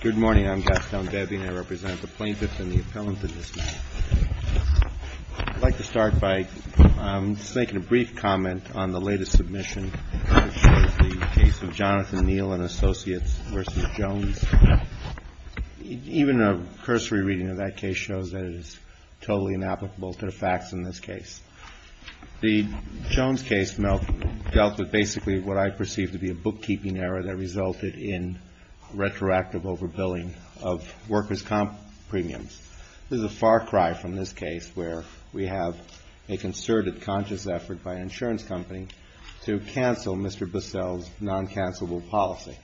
Good morning. I'm Gaston Debbie, and I represent the plaintiffs and the appellants in this case. I'd like to start by just making a brief comment on the latest submission of the case of Jonathan Neal and Associates v. Jones. Even a cursory reading of that case shows that it is totally inapplicable to the facts in this case. The Jones case dealt with basically what I perceive to be a bookkeeping error that resulted in retroactive overbilling of workers' comp premiums. This is a far cry from this case where we have a concerted conscious effort by an insurance company to cancel Mr. Bissell's non-cancelable policy.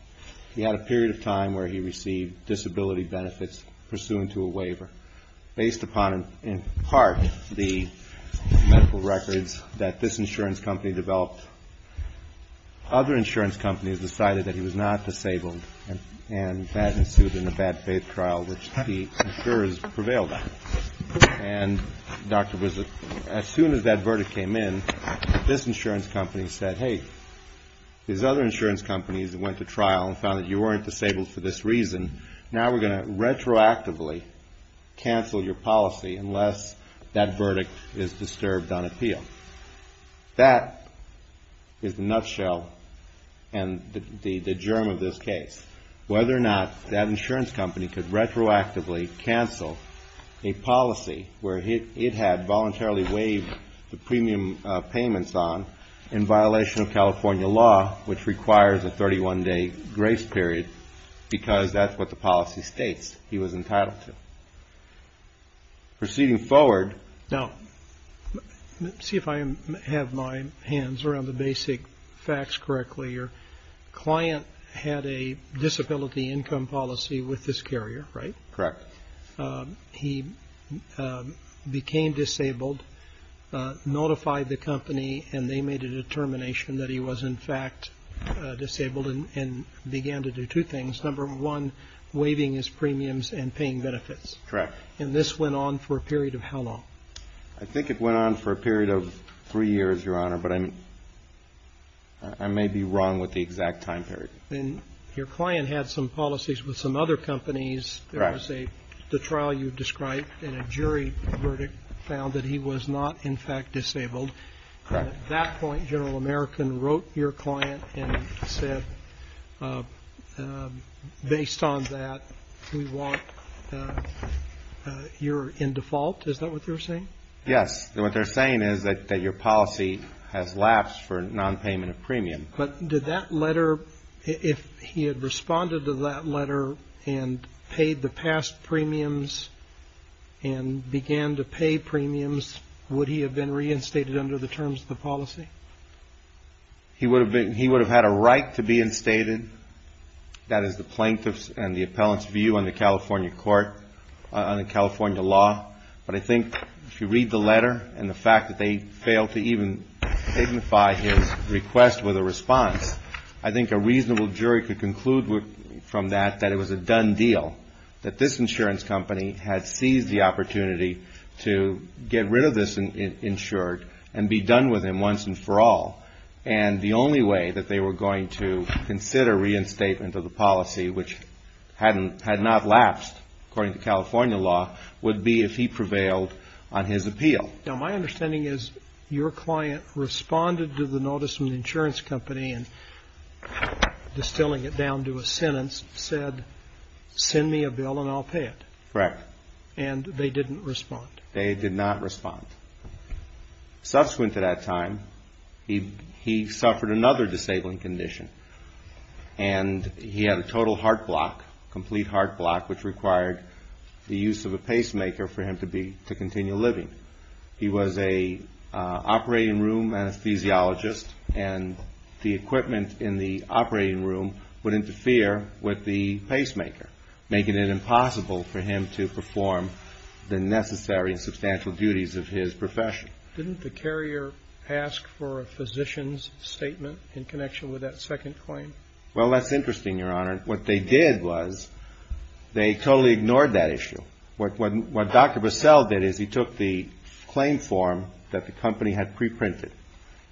He had a period of time where he received disability benefits pursuant to a waiver based upon, in part, the medical records that this insurance company developed. Other insurance companies decided that he was not disabled, and that ensued in a bad faith trial, which the insurers prevailed on. And, Dr. Bissell, as soon as that verdict came in, this insurance company said, hey, these other insurance companies that went to trial and found that you weren't disabled for this reason, now we're going to retroactively cancel your policy unless that verdict is disturbed on appeal. That is the nutshell and the germ of this case. Whether or not that insurance company could retroactively cancel a policy where it had voluntarily waived the premium payments on, in violation of California law, which requires a 31-day grace period, because that's what the policy states he was entitled to. Proceeding forward. Now, let's see if I have my hands around the basic facts correctly. Your client had a disability income policy with this carrier, right? Correct. He became disabled, notified the company, and they made a determination that he was in fact disabled and began to do two things. Number one, waiving his premiums and paying benefits. Correct. And this went on for a period of how long? I think it went on for a period of three years, Your Honor, but I may be wrong with the exact time period. And your client had some policies with some other companies. Correct. There was the trial you described and a jury verdict found that he was not in fact disabled. Correct. And at that point, General American wrote your client and said, based on that, we want you're in default. Is that what they're saying? Yes. What they're saying is that your policy has lapsed for nonpayment of premium. But did that letter, if he had responded to that letter and paid the past premiums and began to pay premiums, would he have been reinstated under the terms of the policy? He would have had a right to be instated. That is the plaintiff's and the appellant's view on the California court, on the California law. But I think if you read the letter and the fact that they failed to even signify his request with a response, I think a reasonable jury could conclude from that that it was a done deal, that this insurance company had seized the opportunity to get rid of this insured and be done with him once and for all. And the only way that they were going to consider reinstatement of the policy, which had not lapsed according to California law, would be if he prevailed on his appeal. Now, my understanding is your client responded to the notice from the insurance company and, distilling it down to a sentence, said, send me a bill and I'll pay it. Correct. And they didn't respond. They did not respond. Subsequent to that time, he suffered another disabling condition, and he had a total heart block, complete heart block, which required the use of a pacemaker for him to continue living. He was an operating room anesthesiologist, and the equipment in the operating room would interfere with the pacemaker, making it impossible for him to perform the necessary and substantial duties of his profession. Didn't the carrier ask for a physician's statement in connection with that second claim? Well, that's interesting, Your Honor. What they did was they totally ignored that issue. What Dr. Bussell did is he took the claim form that the company had preprinted,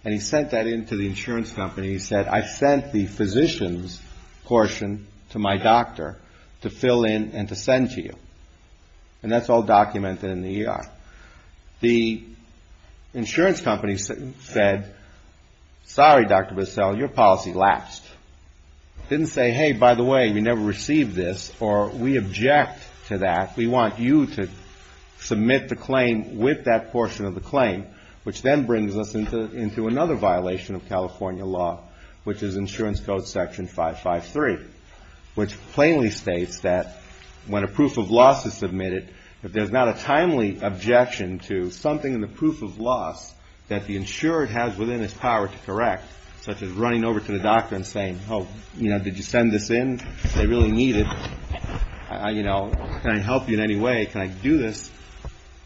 and he sent that in to the insurance company. He said, I sent the physician's portion to my doctor to fill in and to send to you. And that's all documented in the ER. The insurance company said, sorry, Dr. Bussell, your policy lapsed. Didn't say, hey, by the way, we never received this, or we object to that. We want you to submit the claim with that portion of the claim, which then brings us into another violation of California law, which is insurance code section 553, which plainly states that when a proof of loss is submitted, if there's not a timely objection to something in the proof of loss that the insured has within his power to correct, such as running over to the doctor and saying, oh, you know, did you send this in? They really need it. You know, can I help you in any way? Can I do this?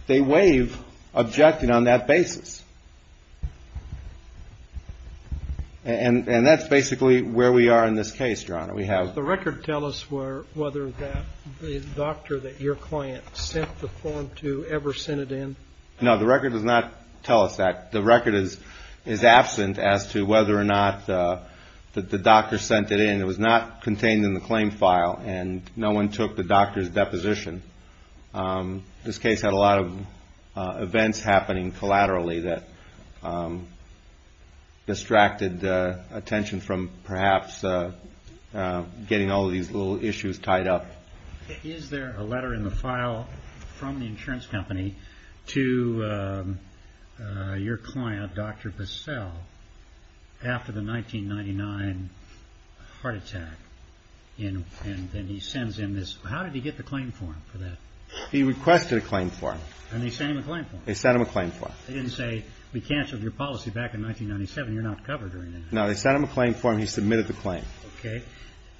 They waive objecting on that basis. And that's basically where we are in this case, Your Honor. Does the record tell us whether the doctor that your client sent the form to ever sent it in? No, the record does not tell us that. The record is absent as to whether or not the doctor sent it in. It was not contained in the claim file, and no one took the doctor's deposition. This case had a lot of events happening collaterally that distracted attention from perhaps getting all of these little issues tied up. Is there a letter in the file from the insurance company to your client, Dr. Bissell, after the 1999 heart attack, and then he sends in this? How did he get the claim form for that? He requested a claim form. And they sent him a claim form. They sent him a claim form. They didn't say, we canceled your policy back in 1997. You're not covered. No, they sent him a claim form. He submitted the claim. Okay.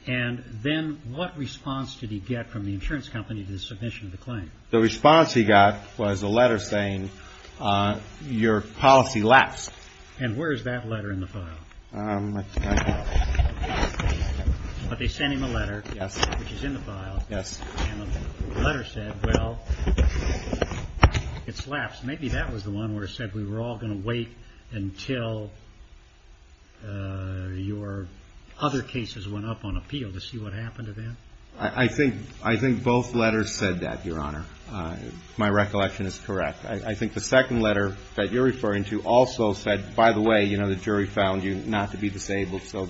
And then what response did he get from the insurance company to the submission of the claim? The response he got was a letter saying, your policy lapsed. And where is that letter in the file? I don't know. But they sent him a letter. Yes. Which is in the file. Yes. And the letter said, well, it's lapsed. Maybe that was the one where it said we were all going to wait until your other cases went up on appeal to see what happened to them. I think both letters said that, Your Honor. My recollection is correct. I think the second letter that you're referring to also said, by the way, you know, the jury found you not to be disabled. So,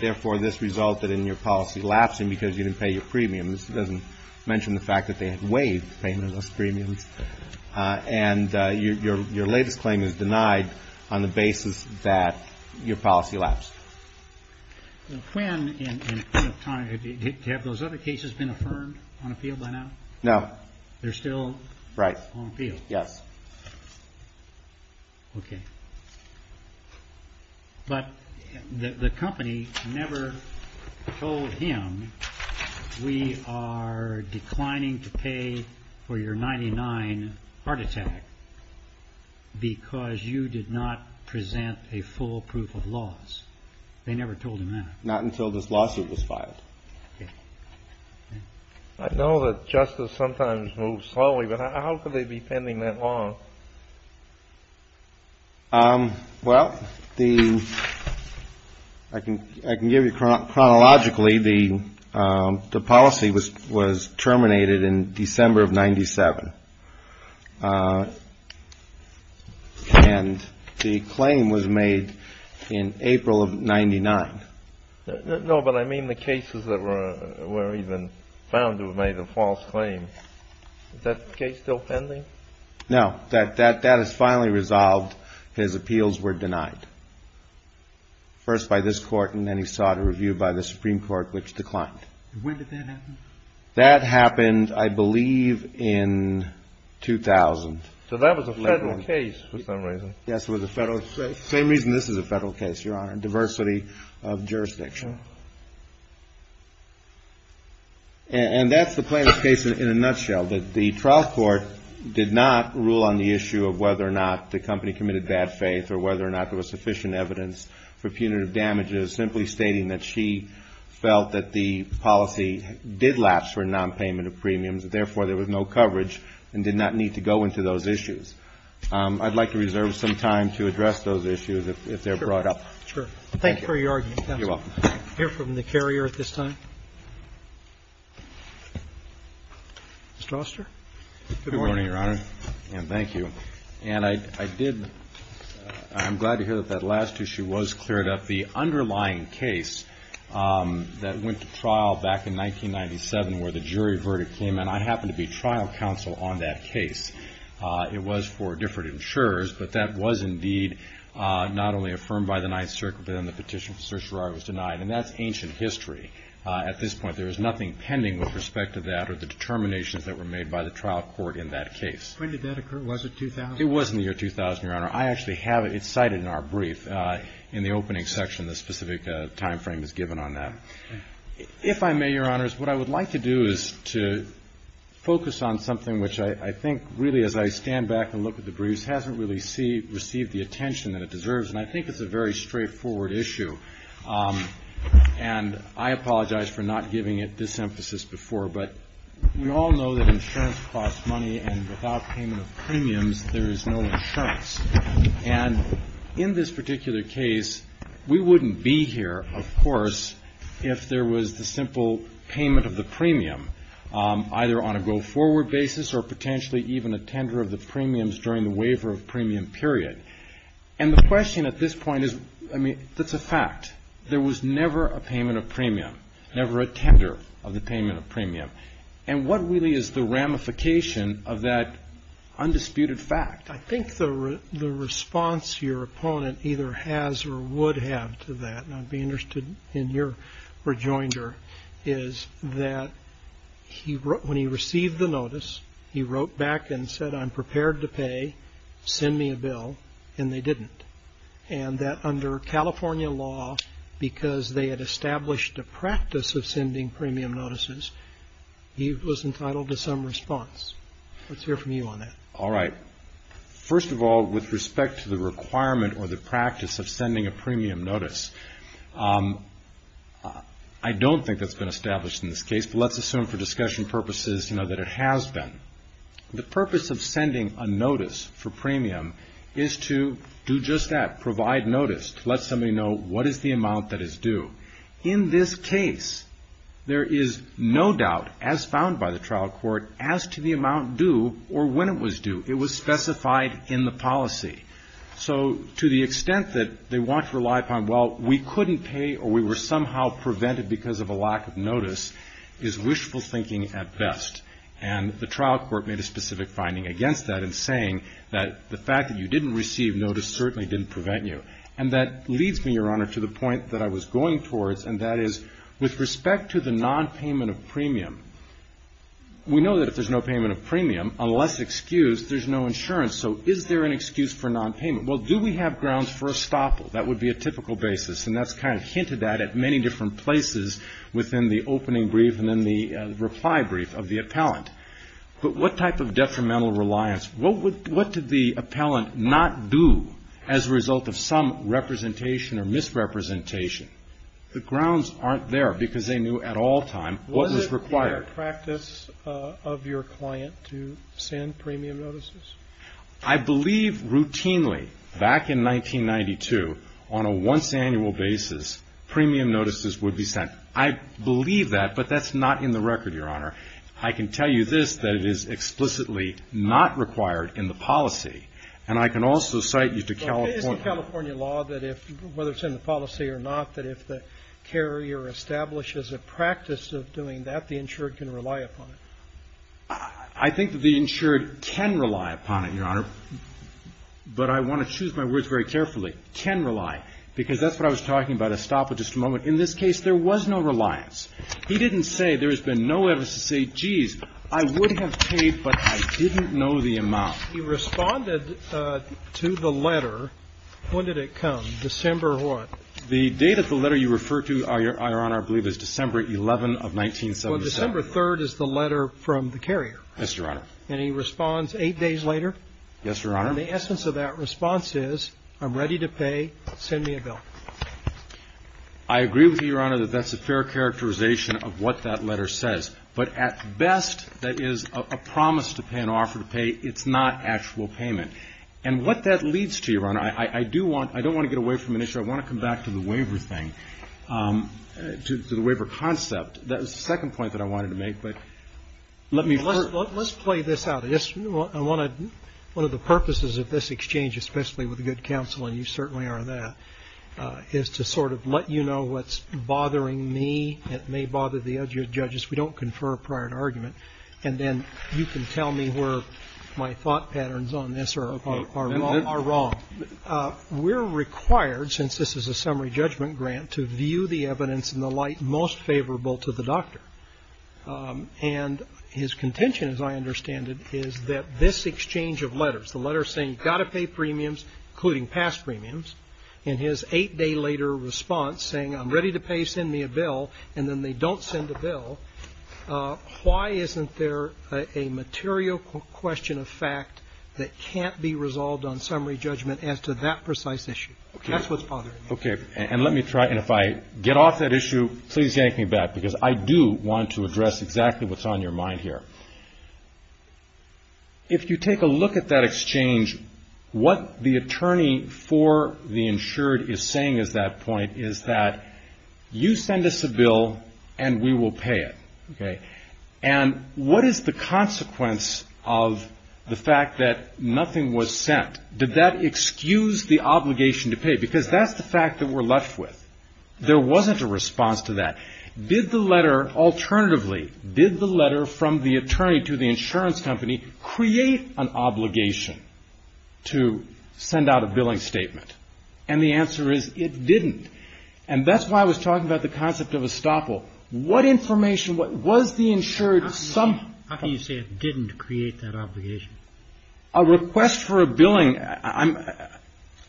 therefore, this resulted in your policy lapsing because you didn't pay your premiums. It doesn't mention the fact that they had waived payment of those premiums. And your latest claim is denied on the basis that your policy lapsed. Quinn and O'Connor, have those other cases been affirmed on appeal by now? No. They're still on appeal? Right. Yes. Okay. But the company never told him we are declining to pay for your 99 heart attack because you did not present a full proof of loss. They never told him that. Not until this lawsuit was filed. I know that justice sometimes moves slowly, but how could they be pending that long? Well, I can give you chronologically, the policy was terminated in December of 97. And the claim was made in April of 99. No, but I mean the cases that were even found to have made a false claim. Is that case still pending? No. That is finally resolved. His appeals were denied. First by this court, and then he sought a review by the Supreme Court, which declined. When did that happen? That happened, I believe, in 2000. So that was a federal case for some reason. Yes, it was a federal case. Same reason this is a federal case, Your Honor. Diversity of jurisdiction. And that's the plaintiff's case in a nutshell. The trial court did not rule on the issue of whether or not the company committed bad faith or whether or not there was sufficient evidence for punitive damages, simply stating that she felt that the policy did lapse for nonpayment of premiums, and therefore there was no coverage and did not need to go into those issues. I'd like to reserve some time to address those issues if they're brought up. Sure. Thank you for your argument, counsel. You're welcome. We'll hear from the carrier at this time. Mr. Oster? Good morning, Your Honor, and thank you. And I'm glad to hear that that last issue was cleared up. The underlying case that went to trial back in 1997 where the jury verdict came in, I happened to be trial counsel on that case. It was for different insurers, but that was indeed not only affirmed by the Ninth Circuit, but then the petition for certiorari was denied. And that's ancient history. At this point, there is nothing pending with respect to that or the determinations that were made by the trial court in that case. When did that occur? Was it 2000? It was in the year 2000, Your Honor. I actually have it. It's cited in our brief in the opening section. The specific timeframe is given on that. If I may, Your Honors, what I would like to do is to focus on something which I think really as I stand back and look at the briefs hasn't really received the attention that it deserves, and I think it's a very straightforward issue. And I apologize for not giving it this emphasis before, but we all know that insurance costs money, and without payment of premiums there is no insurance. And in this particular case, we wouldn't be here, of course, if there was the simple payment of the premium either on a go-forward basis or potentially even a tender of the premiums during the waiver of premium period. And the question at this point is, I mean, that's a fact. There was never a payment of premium, never a tender of the payment of premium. And what really is the ramification of that undisputed fact? I think the response your opponent either has or would have to that, and I'd be interested in your rejoinder, is that when he received the notice, he wrote back and said, I'm prepared to pay, send me a bill, and they didn't. And that under California law, because they had established a practice of sending premium notices, he was entitled to some response. Let's hear from you on that. All right. First of all, with respect to the requirement or the practice of sending a premium notice, I don't think that's been established in this case, but let's assume for discussion purposes that it has been. The purpose of sending a notice for premium is to do just that, provide notice, to let somebody know what is the amount that is due. In this case, there is no doubt, as found by the trial court, as to the amount due or when it was due. It was specified in the policy. So to the extent that they want to rely upon, well, we couldn't pay or we were somehow prevented because of a lack of notice, is wishful thinking at best. And the trial court made a specific finding against that in saying that the fact that you didn't receive notice certainly didn't prevent you. And that leads me, Your Honor, to the point that I was going towards, and that is with respect to the nonpayment of premium, we know that if there's no payment of premium, unless excused, there's no insurance. So is there an excuse for nonpayment? Well, do we have grounds for estoppel? That would be a typical basis. And that's kind of hinted at at many different places within the opening brief and in the reply brief of the appellant. But what type of detrimental reliance? What did the appellant not do as a result of some representation or misrepresentation? The grounds aren't there because they knew at all times what was required. Is it in the practice of your client to send premium notices? I believe routinely back in 1992, on a once annual basis, premium notices would be sent. I believe that, but that's not in the record, Your Honor. I can tell you this, that it is explicitly not required in the policy. And I can also cite you to California. Is it California law that if, whether it's in the policy or not, that if the carrier establishes a practice of doing that, the insured can rely upon it? I think that the insured can rely upon it, Your Honor. But I want to choose my words very carefully. Can rely. Because that's what I was talking about, estoppel, just a moment. In this case, there was no reliance. He didn't say there has been no evidence to say, geez, I would have paid, but I didn't know the amount. He responded to the letter. When did it come? December what? The date of the letter you refer to, Your Honor, I believe is December 11 of 1977. Well, December 3rd is the letter from the carrier. Yes, Your Honor. And he responds eight days later. Yes, Your Honor. And the essence of that response is, I'm ready to pay. Send me a bill. I agree with you, Your Honor, that that's a fair characterization of what that letter says. But at best, that is a promise to pay, an offer to pay. It's not actual payment. And what that leads to, Your Honor, I do want, I don't want to get away from an issue. I want to come back to the waiver thing, to the waiver concept. That was the second point that I wanted to make. But let me first. Let's play this out. I want to, one of the purposes of this exchange, especially with good counsel, and you certainly are that, is to sort of let you know what's bothering me. It may bother the other judges. We don't confer a prior argument. And then you can tell me where my thought patterns on this are wrong. We're required, since this is a summary judgment grant, to view the evidence in the light most favorable to the doctor. And his contention, as I understand it, is that this exchange of letters, the letters saying you've got to pay premiums, including past premiums, and his eight-day-later response saying, I'm ready to pay. Send me a bill. And then they don't send a bill. Why isn't there a material question of fact that can't be resolved on summary judgment as to that precise issue? That's what's bothering me. Okay. And let me try. And if I get off that issue, please yank me back. Because I do want to address exactly what's on your mind here. If you take a look at that exchange, what the attorney for the insured is saying at that point is that you send us a bill and we will pay it. And what is the consequence of the fact that nothing was sent? Did that excuse the obligation to pay? Because that's the fact that we're left with. There wasn't a response to that. Did the letter, alternatively, did the letter from the attorney to the insurance company create an obligation to send out a billing statement? And the answer is it didn't. And that's why I was talking about the concept of estoppel. What information was the insured somehow. How can you say it didn't create that obligation? A request for a billing, I'm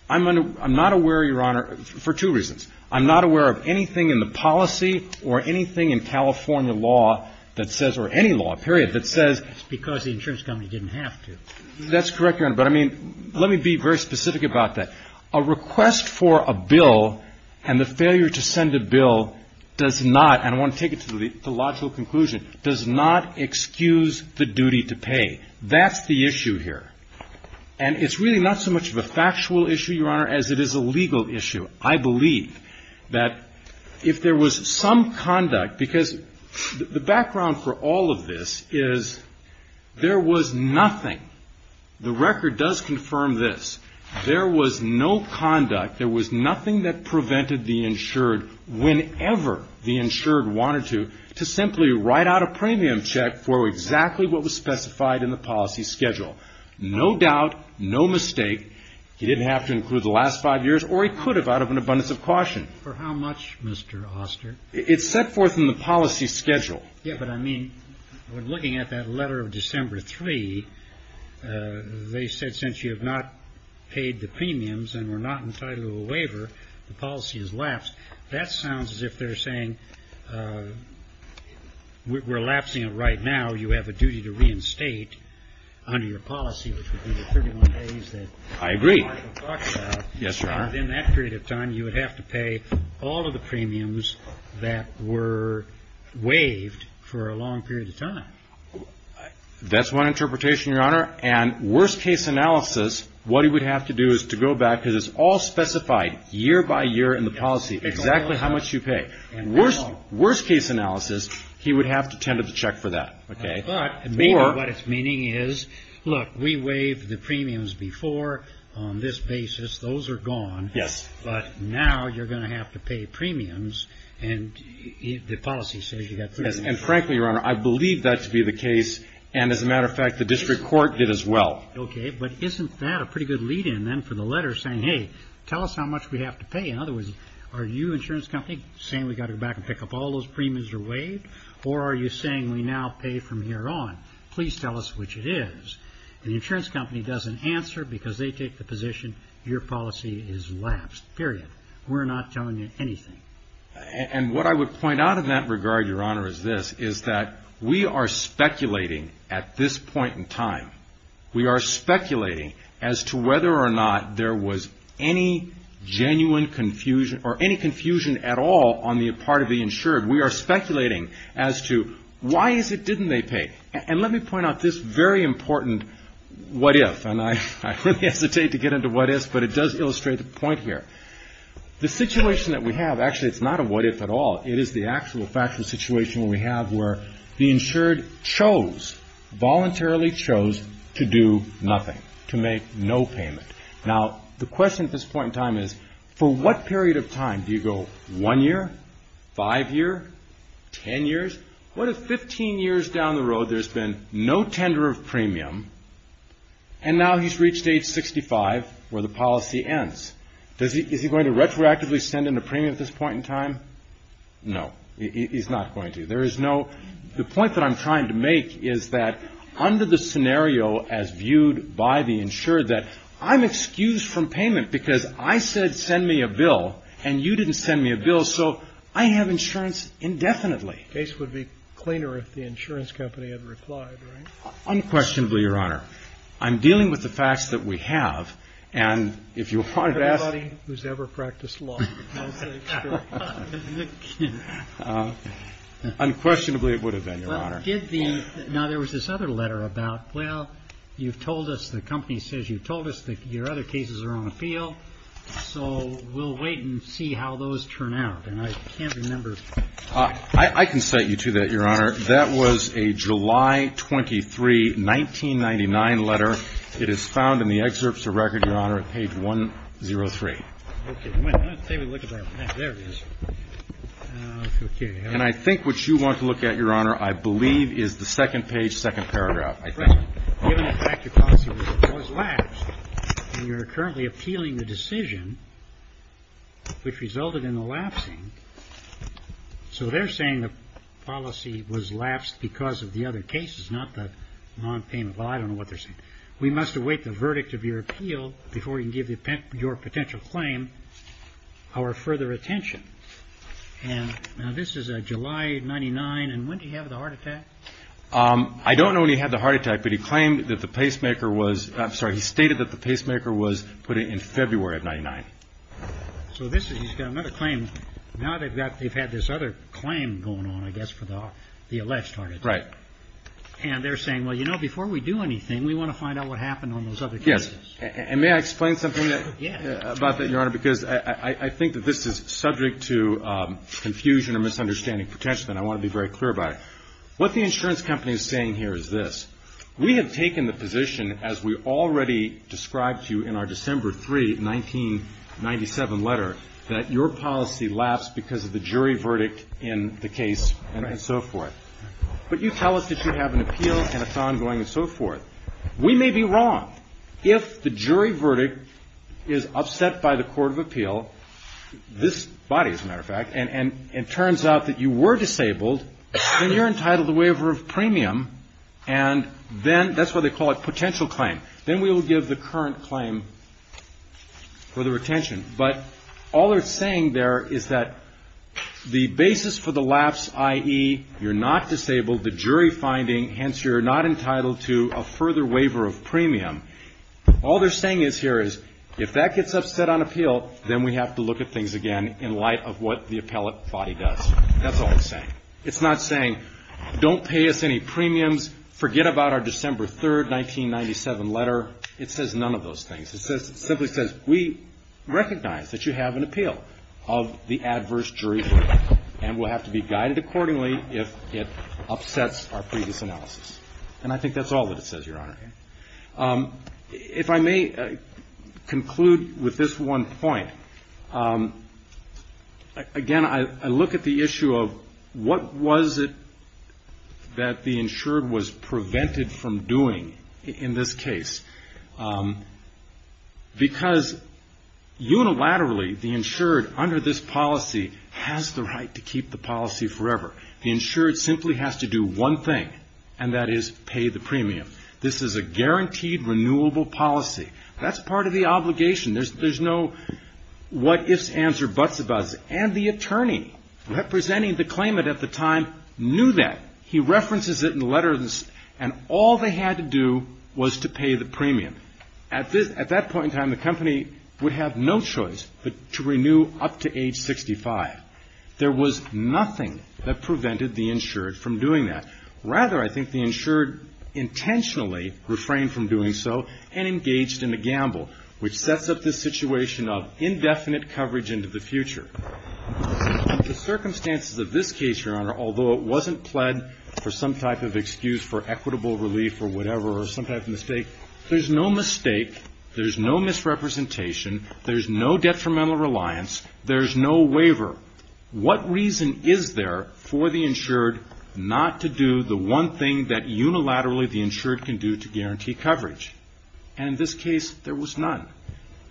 not aware, Your Honor, for two reasons. I'm not aware of anything in the policy or anything in California law that says, or any law, period, that says. It's because the insurance company didn't have to. That's correct, Your Honor. But, I mean, let me be very specific about that. A request for a bill and the failure to send a bill does not, and I want to take it to the logical conclusion, does not excuse the duty to pay. That's the issue here. And it's really not so much of a factual issue, Your Honor, as it is a legal issue. I believe that if there was some conduct, because the background for all of this is there was nothing, the record does confirm this, there was no conduct, there was nothing that prevented the insured, whenever the insured wanted to, to simply write out a premium check for exactly what was specified in the policy schedule. No doubt, no mistake. He didn't have to include the last five years, or he could have out of an abundance of caution. For how much, Mr. Oster? It's set forth in the policy schedule. Yeah, but, I mean, when looking at that letter of December 3, they said since you have not paid the premiums and were not entitled to a waiver, the policy has lapsed. That sounds as if they're saying we're lapsing it right now, you have a duty to reinstate under your policy, which would be the 31 days that Michael talked about. I agree. Yes, Your Honor. And in that period of time, you would have to pay all of the premiums that were waived for a long period of time. That's one interpretation, Your Honor. And worst case analysis, what he would have to do is to go back, because it's all specified year by year in the policy, exactly how much you pay. And worst case analysis, he would have to tend to the check for that. But what it's meaning is, look, we waived the premiums before on this basis. Those are gone. Yes. But now you're going to have to pay premiums, and the policy says you have to. And frankly, Your Honor, I believe that to be the case, and as a matter of fact, the district court did as well. Okay, but isn't that a pretty good lead-in then for the letter saying, hey, tell us how much we have to pay? In other words, are you, insurance company, saying we've got to go back and pick up all those premiums that were waived? Or are you saying we now pay from here on? Please tell us which it is. The insurance company doesn't answer because they take the position your policy is lapsed, period. We're not telling you anything. And what I would point out in that regard, Your Honor, is this, is that we are speculating at this point in time. We are speculating as to whether or not there was any genuine confusion or any confusion at all on the part of the insured. We are speculating as to why is it didn't they pay? And let me point out this very important what if. And I really hesitate to get into what ifs, but it does illustrate the point here. The situation that we have, actually it's not a what if at all. It is the actual factual situation we have where the insured chose, voluntarily chose to do nothing, to make no payment. Now, the question at this point in time is for what period of time? Do you go one year, five year, ten years? What if 15 years down the road there's been no tender of premium and now he's reached age 65 where the policy ends? Is he going to retroactively send in a premium at this point in time? No, he's not going to. The point that I'm trying to make is that under the scenario as viewed by the insured that I'm excused from payment because I said send me a bill and you didn't send me a bill, so I have insurance indefinitely. The case would be cleaner if the insurance company had replied, right? Unquestionably, Your Honor. I'm dealing with the facts that we have, and if you wanted to ask... Everybody who's ever practiced law will say it's true. Unquestionably, it would have been, Your Honor. Now, there was this other letter about, well, you've told us, the company says you've told us that your other cases are on the field, so we'll wait and see how those turn out, and I can't remember... I can cite you to that, Your Honor. That was a July 23, 1999 letter. It is found in the excerpts of record, Your Honor, at page 103. Okay. Well, let's take a look at that. There it is. Okay. And I think what you want to look at, Your Honor, I believe, is the second page, second paragraph, I think. Right. Given the fact your policy was lapsed, and you're currently appealing the decision which resulted in the lapsing, so they're saying the policy was lapsed because of the other cases, not the nonpayment. Well, I don't know what they're saying. We must await the verdict of your appeal before we can give your potential claim our further attention. Now, this is July 1999, and when did he have the heart attack? I don't know when he had the heart attack, but he claimed that the pacemaker was – I'm sorry. He stated that the pacemaker was put in February of 1999. So this is – he's got another claim. Now they've got – they've had this other claim going on, I guess, for the alleged heart attack. Right. And they're saying, well, you know, before we do anything, we want to find out what happened on those other cases. Yes. And may I explain something about that, Your Honor? Yes. Because I think that this is subject to confusion or misunderstanding potentially, and I want to be very clear about it. What the insurance company is saying here is this. We have taken the position, as we already described to you in our December 3, 1997 letter, that your policy lapsed because of the jury verdict in the case and so forth. Right. But you tell us that you have an appeal and it's ongoing and so forth. We may be wrong. If the jury verdict is upset by the court of appeal – this body, as a matter of fact – and it turns out that you were disabled, then you're entitled to waiver of premium, and then – that's why they call it potential claim. Then we will give the current claim for the retention. But all they're saying there is that the basis for the lapse, i.e., you're not disabled, the jury finding, hence you're not entitled to a further waiver of premium. All they're saying here is, if that gets upset on appeal, then we have to look at things again in light of what the appellate body does. That's all it's saying. It's not saying, don't pay us any premiums, forget about our December 3, 1997 letter. It says none of those things. It simply says, we recognize that you have an appeal of the adverse jury verdict and will have to be guided accordingly if it upsets our previous analysis. And I think that's all that it says, Your Honor. If I may conclude with this one point. Again, I look at the issue of what was it that the insured was prevented from doing in this case. Because unilaterally, the insured under this policy has the right to keep the policy forever. The insured simply has to do one thing, and that is pay the premium. This is a guaranteed renewable policy. That's part of the obligation. There's no what ifs, ands, or buts about it. And the attorney representing the claimant at the time knew that. He references it in the letter, and all they had to do was to pay the premium. At that point in time, the company would have no choice but to renew up to age 65. There was nothing that prevented the insured from doing that. Rather, I think the insured intentionally refrained from doing so and engaged in a gamble, which sets up this situation of indefinite coverage into the future. The circumstances of this case, Your Honor, although it wasn't pled for some type of excuse for equitable relief or whatever or some type of mistake, there's no mistake, there's no misrepresentation, there's no detrimental reliance, there's no waiver. What reason is there for the insured not to do the one thing that unilaterally the insured can do to guarantee coverage? And in this case, there was none.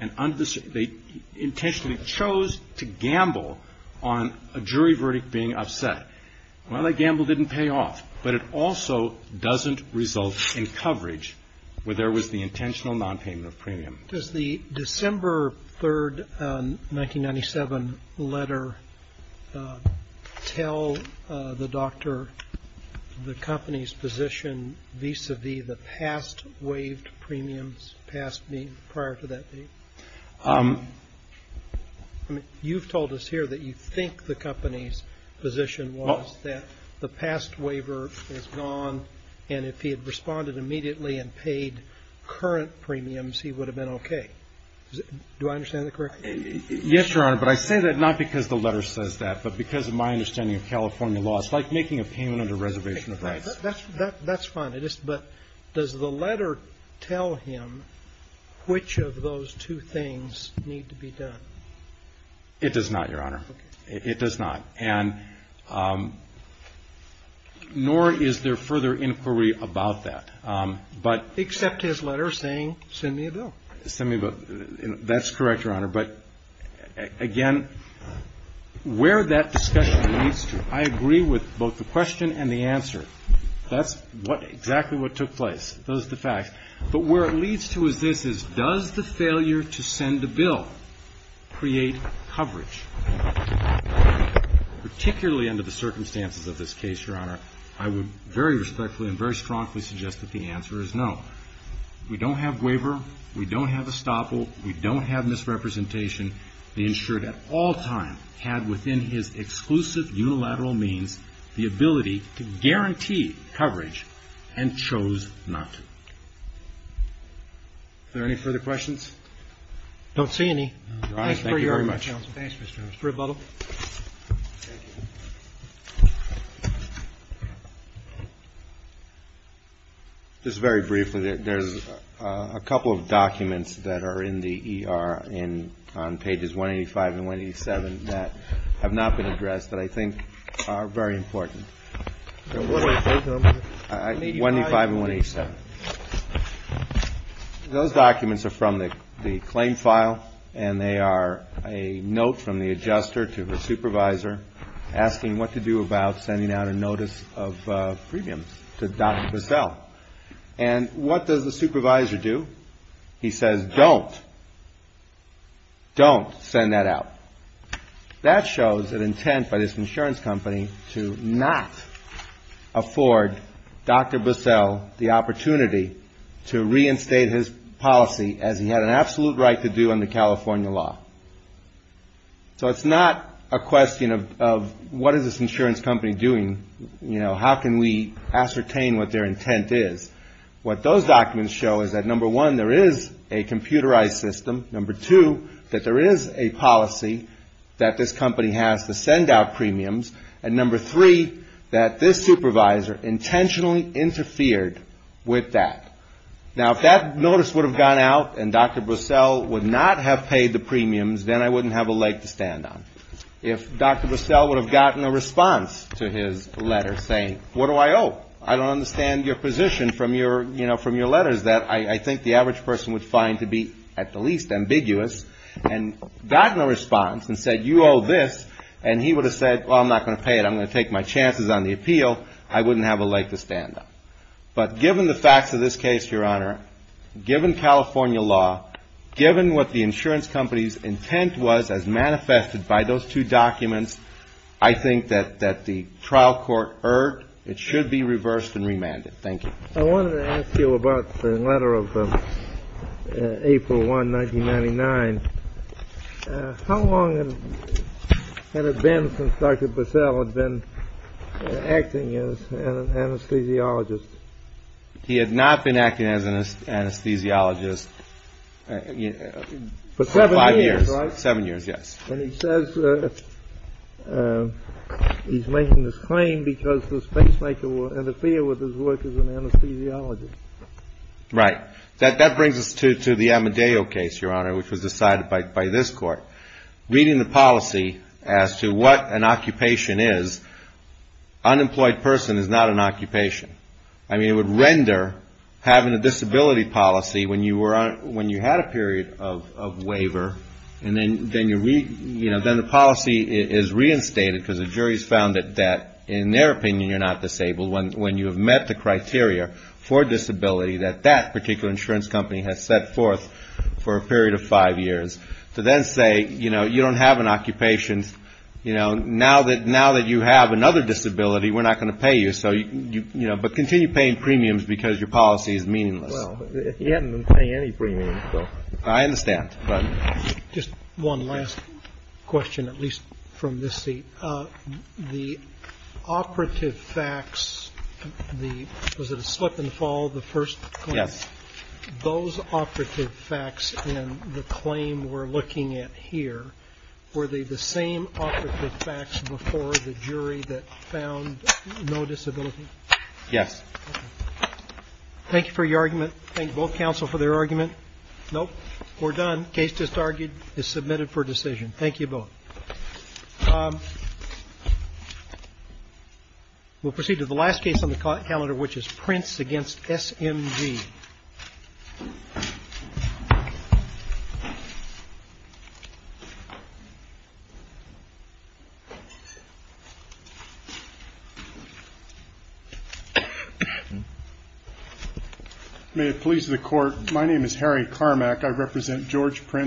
And they intentionally chose to gamble on a jury verdict being upset. Well, that gamble didn't pay off, but it also doesn't result in coverage where there was the intentional nonpayment of premium. Does the December 3rd, 1997 letter tell the doctor the company's position vis-a-vis the past waived premiums prior to that date? I mean, you've told us here that you think the company's position was that the past waiver is gone, and if he had responded immediately and paid current premiums, he would have been okay. Do I understand that correctly? Yes, Your Honor. But I say that not because the letter says that, but because of my understanding of California law. It's like making a payment under reservation of rights. That's fine. But does the letter tell him which of those two things need to be done? It does not, Your Honor. It does not. And nor is there further inquiry about that. Except his letter saying, send me a bill. Send me a bill. That's correct, Your Honor. But, again, where that discussion leads to, I agree with both the question and the answer. Those are the facts. But where it leads to is this, is does the failure to send a bill create coverage? Particularly under the circumstances of this case, Your Honor, I would very respectfully and very strongly suggest that the answer is no. We don't have waiver. We don't have estoppel. We don't have misrepresentation. The insured at all time had within his exclusive unilateral means the ability to guarantee coverage and chose not. Are there any further questions? I don't see any. Your Honor, thank you very much. Thank you, Your Honor. Thanks, Mr. Chairman. Mr. Rebuttal. Thank you. Just very briefly, there's a couple of documents that are in the ER on pages 185 and 187 that have not been addressed that I think are very important. 185 and 187. Those documents are from the claim file, and they are a note from the adjuster to the supervisor asking what to do about sending out a notice of premiums to Dr. Bissell. And what does the supervisor do? He says, don't. Don't send that out. That shows an intent by this insurance company to not afford Dr. Bissell the opportunity to reinstate his policy as he had an absolute right to do under California law. So it's not a question of what is this insurance company doing? How can we ascertain what their intent is? What those documents show is that, number one, there is a computerized system. Number two, that there is a policy that this company has to send out premiums. And number three, that this supervisor intentionally interfered with that. Now, if that notice would have gone out and Dr. Bissell would not have paid the premiums, then I wouldn't have a leg to stand on. If Dr. Bissell would have gotten a response to his letter saying, what do I owe? I don't understand your position from your letters that I think the average person would find to be at the least ambiguous. And gotten a response and said, you owe this. And he would have said, well, I'm not going to pay it. I'm going to take my chances on the appeal. I wouldn't have a leg to stand on. But given the facts of this case, Your Honor, given California law, given what the insurance company's intent was as manifested by those two documents, I think that the trial court erred. It should be reversed and remanded. Thank you. I wanted to ask you about the letter of April 1, 1999. How long had it been since Dr. Bissell had been acting as an anesthesiologist? He had not been acting as an anesthesiologist for five years. Seven years, right? Seven years, yes. And he says he's making this claim because the spacemaker will interfere with his work as an anesthesiologist. Right. That brings us to the Amadeo case, Your Honor, which was decided by this court. Reading the policy as to what an occupation is, unemployed person is not an occupation. I mean, it would render having a disability policy when you had a period of waiver and then the policy is reinstated because the jury has found that in their opinion you're not disabled when you have met the criteria for disability that that particular insurance company has set forth for a period of five years to then say, you know, you don't have an occupation. Now that you have another disability, we're not going to pay you. But continue paying premiums because your policy is meaningless. He hadn't been paying any premiums. I understand. Go ahead. Just one last question, at least from this seat. The operative facts, was it a slip and fall, the first claim? Yes. Those operative facts in the claim we're looking at here, were they the same operative facts before the jury that found no disability? Yes. Thank you for your argument. Thank both counsel for their argument. Nope. We're done. Case just argued is submitted for decision. Thank you both. We'll proceed to the last case on the calendar, which is Prince v. SMG. May it please the court. My name is Harry Carmack. I represent George Prince.